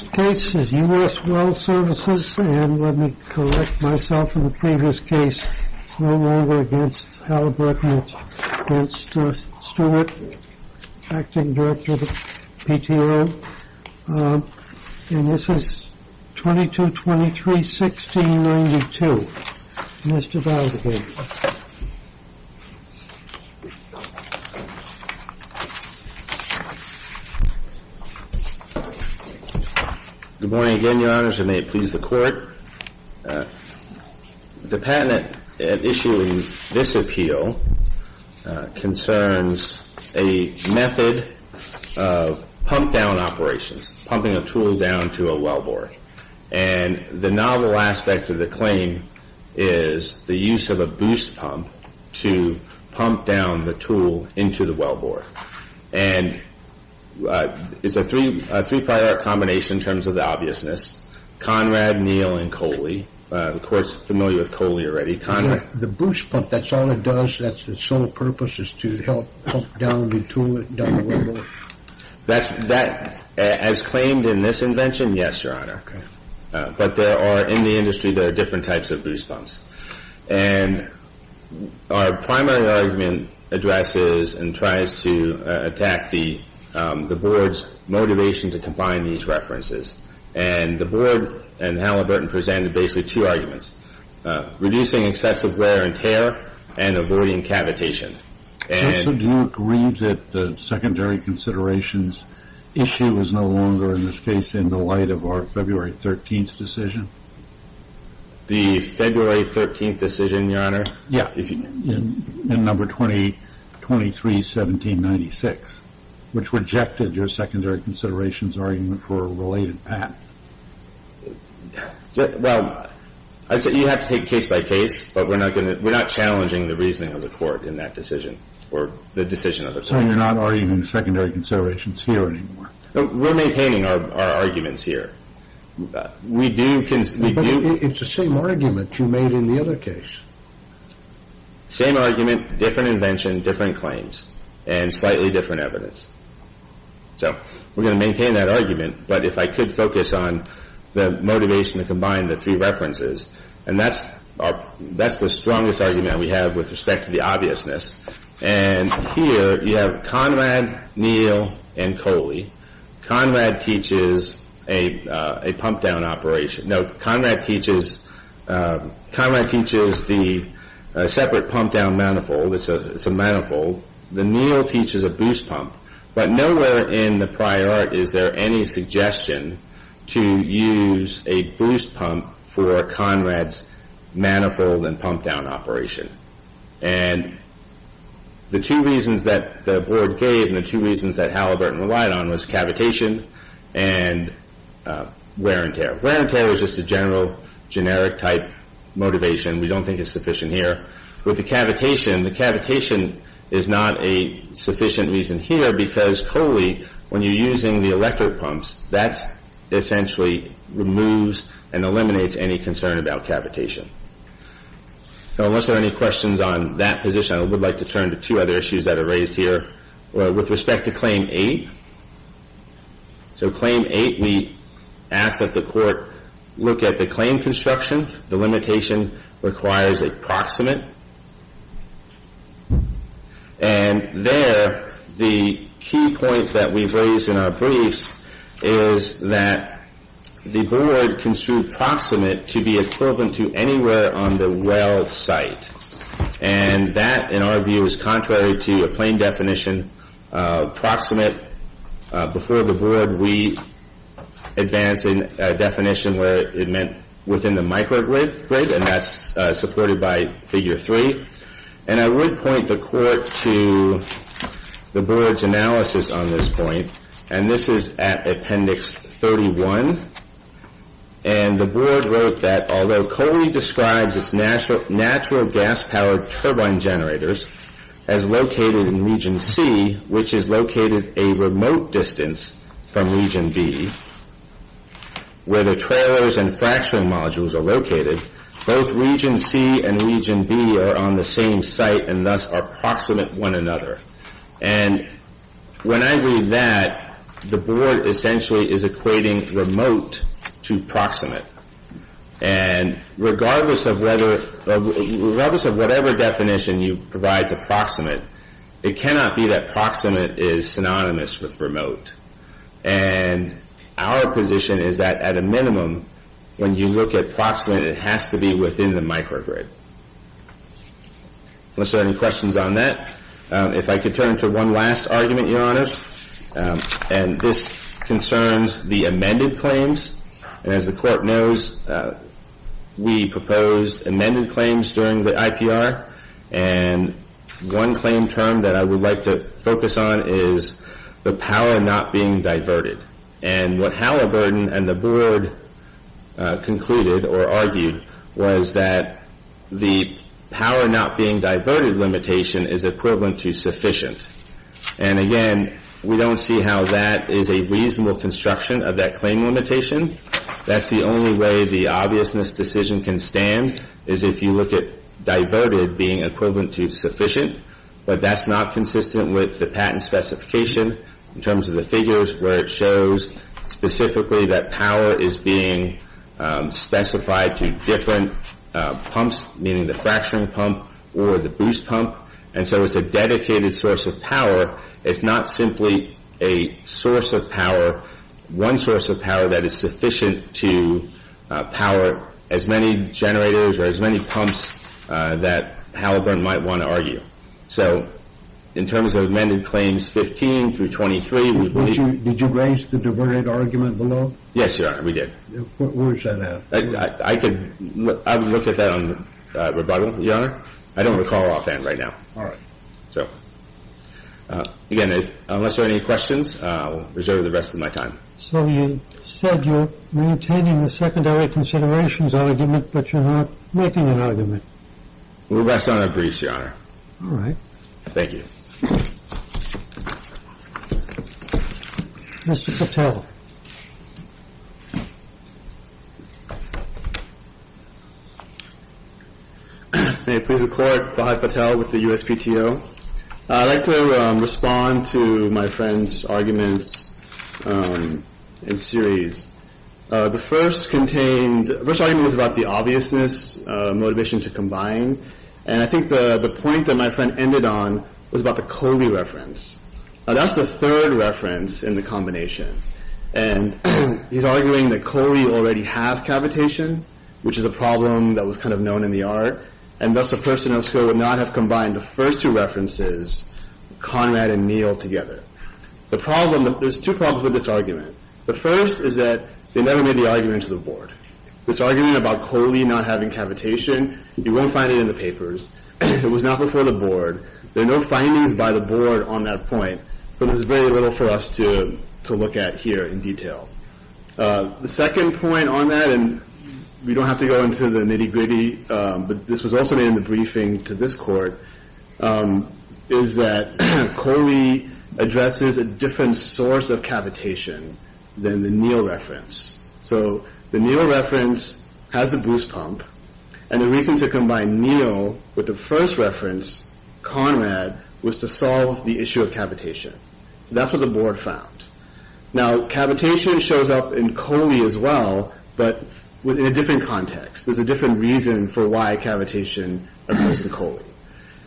This case is U.S. Well Services, and let me correct myself in the previous case. It's no longer against Howard Brookman, it's against Stewart, acting director of the PTO. And this is 2223-1692. Mr. Valdez. Good morning again, Your Honors, and may it please the Court. The patent issuing this appeal concerns a method of pump-down operations, pumping a tool down to a wellboard. And the novel aspect of the claim is the use of a boost pump to pump down the tool into the wellboard. And it's a three-priority combination in terms of the obviousness. Conrad, Neal, and Coley. The Court's familiar with Coley already. Conrad. The boost pump, that's all it does? That's its sole purpose is to help pump down the tool down the wellboard? As claimed in this invention, yes, Your Honor. But there are, in the industry, there are different types of boost pumps. And our primary argument addresses and tries to attack the Board's motivation to combine these references. And the Board and Halliburton presented basically two arguments, reducing excessive wear and tear and avoiding cavitation. Also, do you agree that the secondary considerations issue is no longer, in this case, in the light of our February 13th decision? The February 13th decision, Your Honor? Yeah, in number 23-1796, which rejected your secondary considerations argument for a related patent. Well, I'd say you have to take case by case. But we're not challenging the reasoning of the Court in that decision, or the decision of the Court. So you're not arguing the secondary considerations here anymore? No, we're maintaining our arguments here. We do... But it's the same argument you made in the other case. Same argument, different invention, different claims, and slightly different evidence. So we're going to maintain that argument. But if I could focus on the motivation to combine the three references. And that's the strongest argument we have with respect to the obviousness. And here you have Conrad, Neal, and Coley. Conrad teaches a pump-down operation. No, Conrad teaches the separate pump-down manifold. It's a manifold. The Neal teaches a boost pump. But nowhere in the prior art is there any suggestion to use a boost pump for Conrad's manifold and pump-down operation. And the two reasons that the Board gave, and the two reasons that Halliburton relied on, was cavitation and wear and tear. Wear and tear is just a general, generic-type motivation. We don't think it's sufficient here. With the cavitation, the cavitation is not a sufficient reason here because, Coley, when you're using the electric pumps, that essentially removes and eliminates any concern about cavitation. So unless there are any questions on that position, I would like to turn to two other issues that are raised here. With respect to Claim 8. So Claim 8, we ask that the Court look at the claim construction. The limitation requires a proximate. And there, the key point that we've raised in our briefs is that the Board construed proximate to be equivalent to anywhere on the well site. And that, in our view, is contrary to a plain definition of proximate. Before the Board, we advanced a definition where it meant within the microgrid. And that's supported by Figure 3. And I would point the Court to the Board's analysis on this point. And this is at Appendix 31. And the Board wrote that, although Coley describes its natural gas-powered turbine generators as located in Region C, which is located a remote distance from Region B, where the trailers and fracturing modules are located, both Region C and Region B are on the same site and thus are proximate one another. And when I read that, the Board essentially is equating remote to proximate. And regardless of whatever definition you provide to proximate, it cannot be that proximate is synonymous with remote. And our position is that, at a minimum, when you look at proximate, it has to be within the microgrid. Unless there are any questions on that. If I could turn to one last argument, Your Honors. And this concerns the amended claims. And as the Court knows, we proposed amended claims during the IPR. And one claim term that I would like to focus on is the power not being diverted. And what Halliburton and the Board concluded or argued was that the power not being diverted limitation is equivalent to sufficient. And again, we don't see how that is a reasonable construction of that claim limitation. That's the only way the obviousness decision can stand, is if you look at diverted being equivalent to sufficient. But that's not consistent with the patent specification in terms of the figures where it shows specifically that power is being specified to different pumps, meaning the fracturing pump or the boost pump. And so it's a dedicated source of power. It's not simply a source of power, one source of power that is sufficient to power as many generators or as many pumps that Halliburton might want to argue. So in terms of amended claims 15 through 23, we believe— Did you raise the diverted argument below? Yes, Your Honor, we did. Where is that at? I would look at that on rebuttal, Your Honor. I don't recall offhand right now. All right. So again, unless there are any questions, I'll reserve the rest of my time. So you said you're maintaining the secondary considerations argument, but you're not making an argument. We'll rest on our briefs, Your Honor. All right. Thank you. Mr. Patel. Mr. Patel. May I please report? Fahad Patel with the USPTO. I'd like to respond to my friend's arguments in series. The first contained—the first argument was about the obviousness, motivation to combine, and I think the point that my friend ended on was about the Coley reference. Now, that's the third reference in the combination, and he's arguing that Coley already has cavitation, which is a problem that was kind of known in the art, and thus a person of skill would not have combined the first two references, Conrad and Neal, together. The problem—there's two problems with this argument. The first is that they never made the argument to the board. This argument about Coley not having cavitation, you won't find it in the papers. It was not before the board. There are no findings by the board on that point, but there's very little for us to look at here in detail. The second point on that, and we don't have to go into the nitty-gritty, but this was also in the briefing to this court, is that Coley addresses a different source of cavitation than the Neal reference. So the Neal reference has a boost pump, and the reason to combine Neal with the first reference, Conrad, was to solve the issue of cavitation. So that's what the board found. Now, cavitation shows up in Coley as well, but in a different context. There's a different reason for why cavitation occurs in Coley.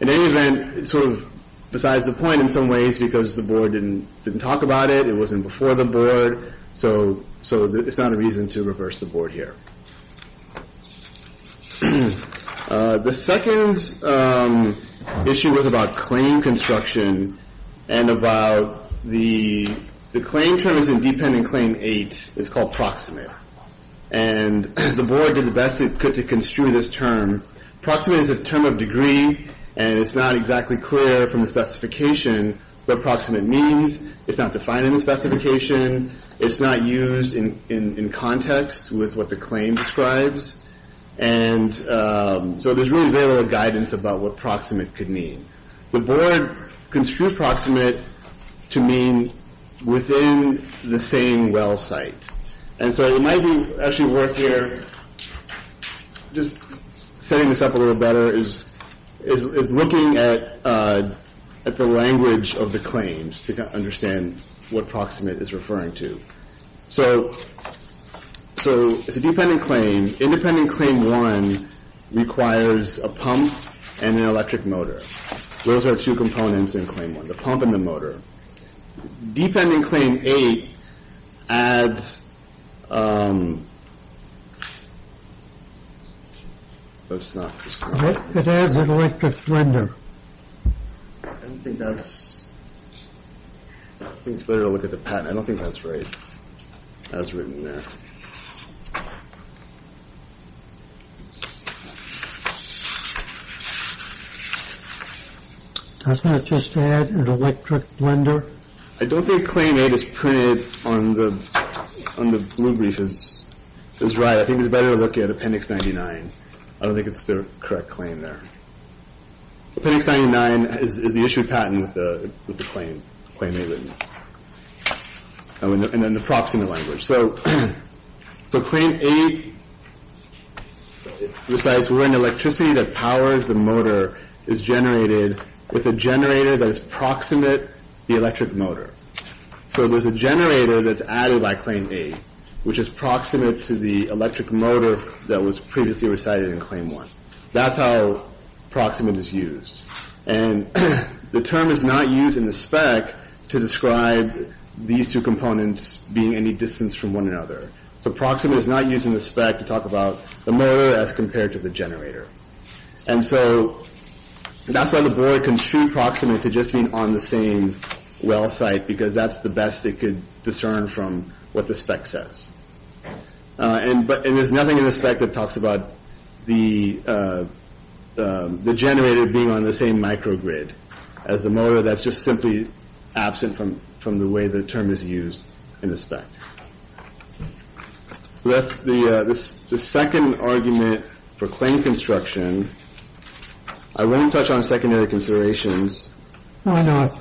In any event, it's sort of besides the point in some ways because the board didn't talk about it, it wasn't before the board, so it's not a reason to reverse the board here. The second issue was about claim construction, and about the claim terms in Dependent Claim 8 is called proximate. And the board did the best it could to construe this term. Proximate is a term of degree, and it's not exactly clear from the specification what proximate means. It's not defined in the specification. It's not used in context with what the claim describes. And so there's really very little guidance about what proximate could mean. The board construed proximate to mean within the same well site. And so it might be actually worth here, just setting this up a little better, is looking at the language of the claims to understand what proximate is referring to. So it's a dependent claim. Independent Claim 1 requires a pump and an electric motor. Those are two components in Claim 1, the pump and the motor. Dependent Claim 8 adds... Oh, it's not. It adds an electric blender. I don't think that's... I think it's better to look at the patent. I don't think that's right, as written in there. I was going to just add an electric blender. I don't think Claim 8 is printed on the blue briefs. It's right. I think it's better to look at Appendix 99. I don't think it's the correct claim there. Appendix 99 is the issued patent with the claim, Claim 8 written, and then the proximate language. So Claim 8 recites, where an electricity that powers the motor is generated with a generator that is proximate the electric motor. So there's a generator that's added by Claim 8, which is proximate to the electric motor that was previously recited in Claim 1. That's how proximate is used. And the term is not used in the spec to describe these two components being any distance from one another. So proximate is not used in the spec to talk about the motor as compared to the generator. And so that's why the board construed proximate to just mean on the same well site, because that's the best it could discern from what the spec says. And there's nothing in the spec that talks about the generator being on the same microgrid as the motor. So that's just simply absent from the way the term is used in the spec. That's the second argument for claim construction. I wouldn't touch on secondary considerations. Why not?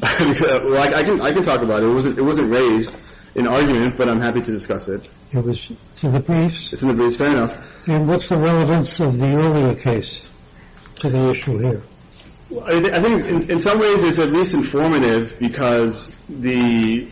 Well, I can talk about it. It wasn't raised in argument, but I'm happy to discuss it. It's in the briefs? It's in the briefs. Fair enough. And what's the relevance of the earlier case to the issue here? I think in some ways it's at least informative because, as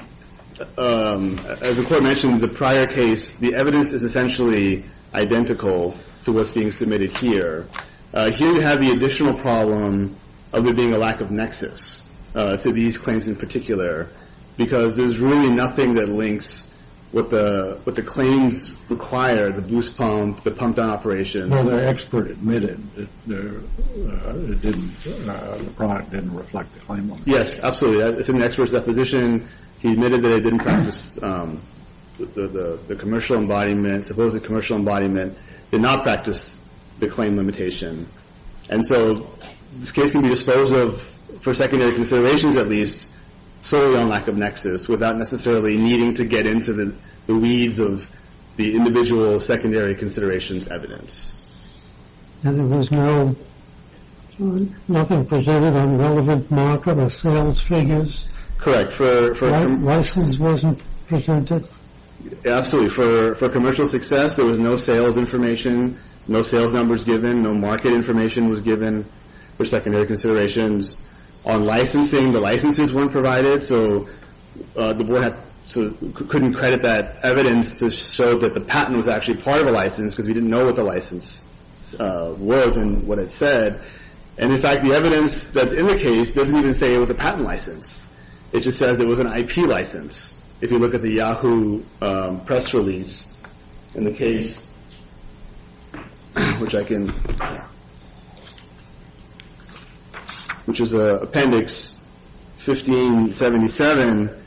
the court mentioned, the prior case, the evidence is essentially identical to what's being submitted here. Here you have the additional problem of there being a lack of nexus to these claims in particular, because there's really nothing that links what the claims require, the boost pump, the pump-down operation. Well, the expert admitted that the product didn't reflect the claim limit. Yes, absolutely. It's in the expert's deposition. He admitted that it didn't practice the commercial embodiment. Suppose the commercial embodiment did not practice the claim limitation. And so this case can be disposed of, for secondary considerations at least, solely on lack of nexus, without necessarily needing to get into the weeds of the individual secondary considerations evidence. And there was nothing presented on relevant market or sales figures? Correct. License wasn't presented? Absolutely. For commercial success, there was no sales information, no sales numbers given, no market information was given for secondary considerations. On licensing, the licenses weren't provided, so the board couldn't credit that evidence to show that the patent was actually part of a license because we didn't know what the license was and what it said. And, in fact, the evidence that's in the case doesn't even say it was a patent license. It just says it was an IP license. If you look at the Yahoo press release in the case, which is Appendix 1577,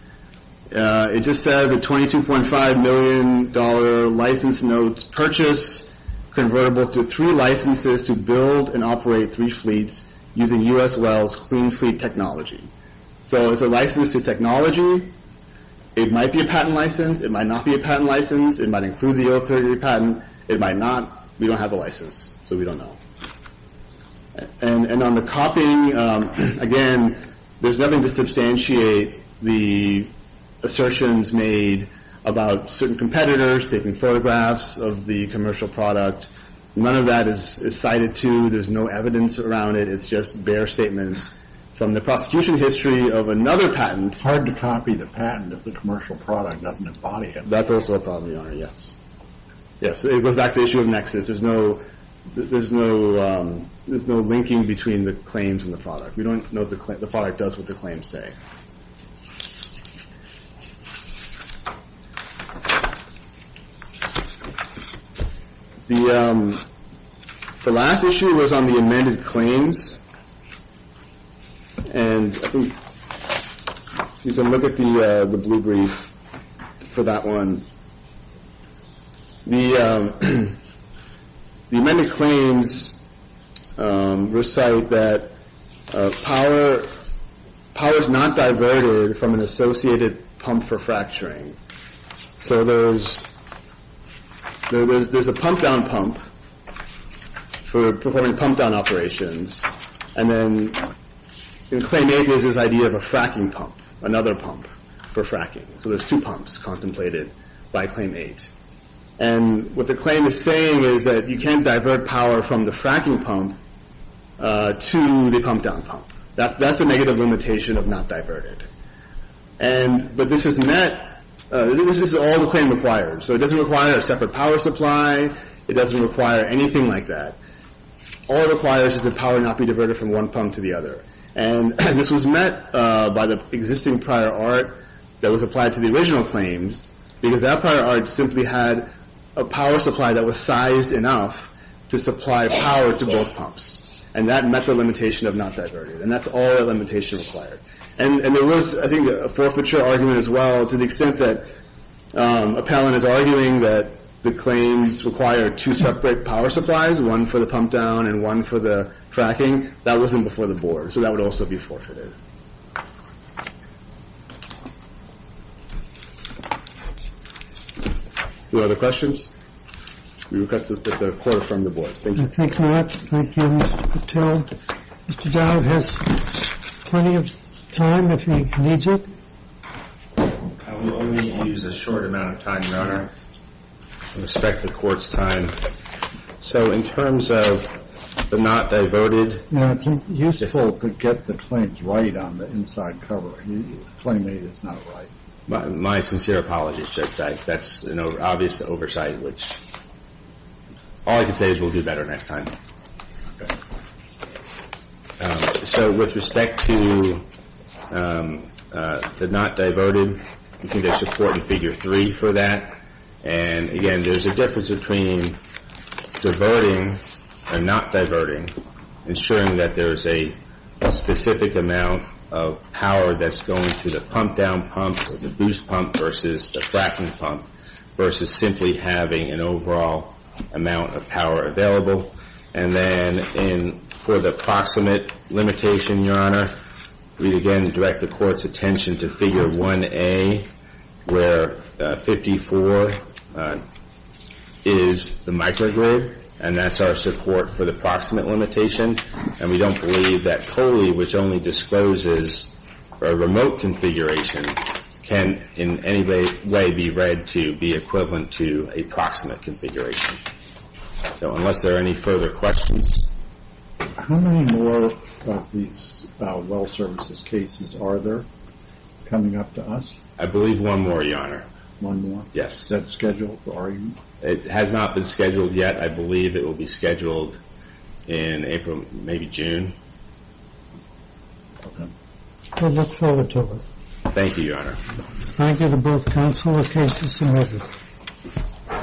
it just says a $22.5 million license note purchase convertible to three licenses to build and operate three fleets using U.S. Wells Clean Fleet Technology. So it's a license to technology. It might be a patent license. It might not be a patent license. It might include the authority of the patent. It might not. We don't have a license, so we don't know. And on the copying, again, there's nothing to substantiate the assertions made about certain competitors taking photographs of the commercial product. None of that is cited, too. There's no evidence around it. It's just bare statements from the prosecution history of another patent. It's hard to copy the patent if the commercial product doesn't embody it. That's also a problem, Your Honor, yes. Yes, it goes back to the issue of nexus. There's no linking between the claims and the product. We don't know if the product does what the claims say. The last issue was on the amended claims. And you can look at the blue brief for that one. The amended claims recite that power is not diverted from an associated pump for fracturing. So there's a pump-down pump for performing pump-down operations. And then in Claim 8, there's this idea of a fracking pump, another pump for fracking. So there's two pumps contemplated by Claim 8. And what the claim is saying is that you can't divert power from the fracking pump to the pump-down pump. That's the negative limitation of not diverted. But this is all the claim requires. So it doesn't require a separate power supply. It doesn't require anything like that. All it requires is that power not be diverted from one pump to the other. And this was met by the existing prior art that was applied to the original claims because that prior art simply had a power supply that was sized enough to supply power to both pumps. And that met the limitation of not diverted. And that's all that limitation required. And there was, I think, a forfeiture argument as well to the extent that Appellant is arguing that the claims require two separate power supplies, one for the pump-down and one for the fracking. That wasn't before the board. So that would also be forfeited. Any other questions? We request that the court affirm the board. Thank you. Thank you, Mark. Thank you, Mr. Patel. Mr. Dowd has plenty of time if he needs it. I will only use a short amount of time, Your Honor, with respect to court's time. So in terms of the not diverted... It's useful to get the claims right on the inside cover. You claim that it's not right. My sincere apologies, Judge Dyke. That's an obvious oversight, which... All I can say is we'll do better next time. Okay. So with respect to the not diverted, I think there's support in Figure 3 for that. And, again, there's a difference between diverting and not diverting, ensuring that there's a specific amount of power that's going to the pump-down pump or the boost pump versus the fracking pump versus simply having an overall amount of power available. And then for the proximate limitation, Your Honor, we, again, direct the court's attention to Figure 1A, where 54 is the microgrid, and that's our support for the proximate limitation. And we don't believe that Coley, which only discloses a remote configuration, can in any way be read to be equivalent to a proximate configuration. So unless there are any further questions... How many more of these well services cases are there coming up to us? I believe one more, Your Honor. One more? Yes. Is that scheduled for... It has not been scheduled yet. I believe it will be scheduled in April, maybe June. Okay. I look forward to it. Thank you, Your Honor. Thank you to both counsel. The case is submitted.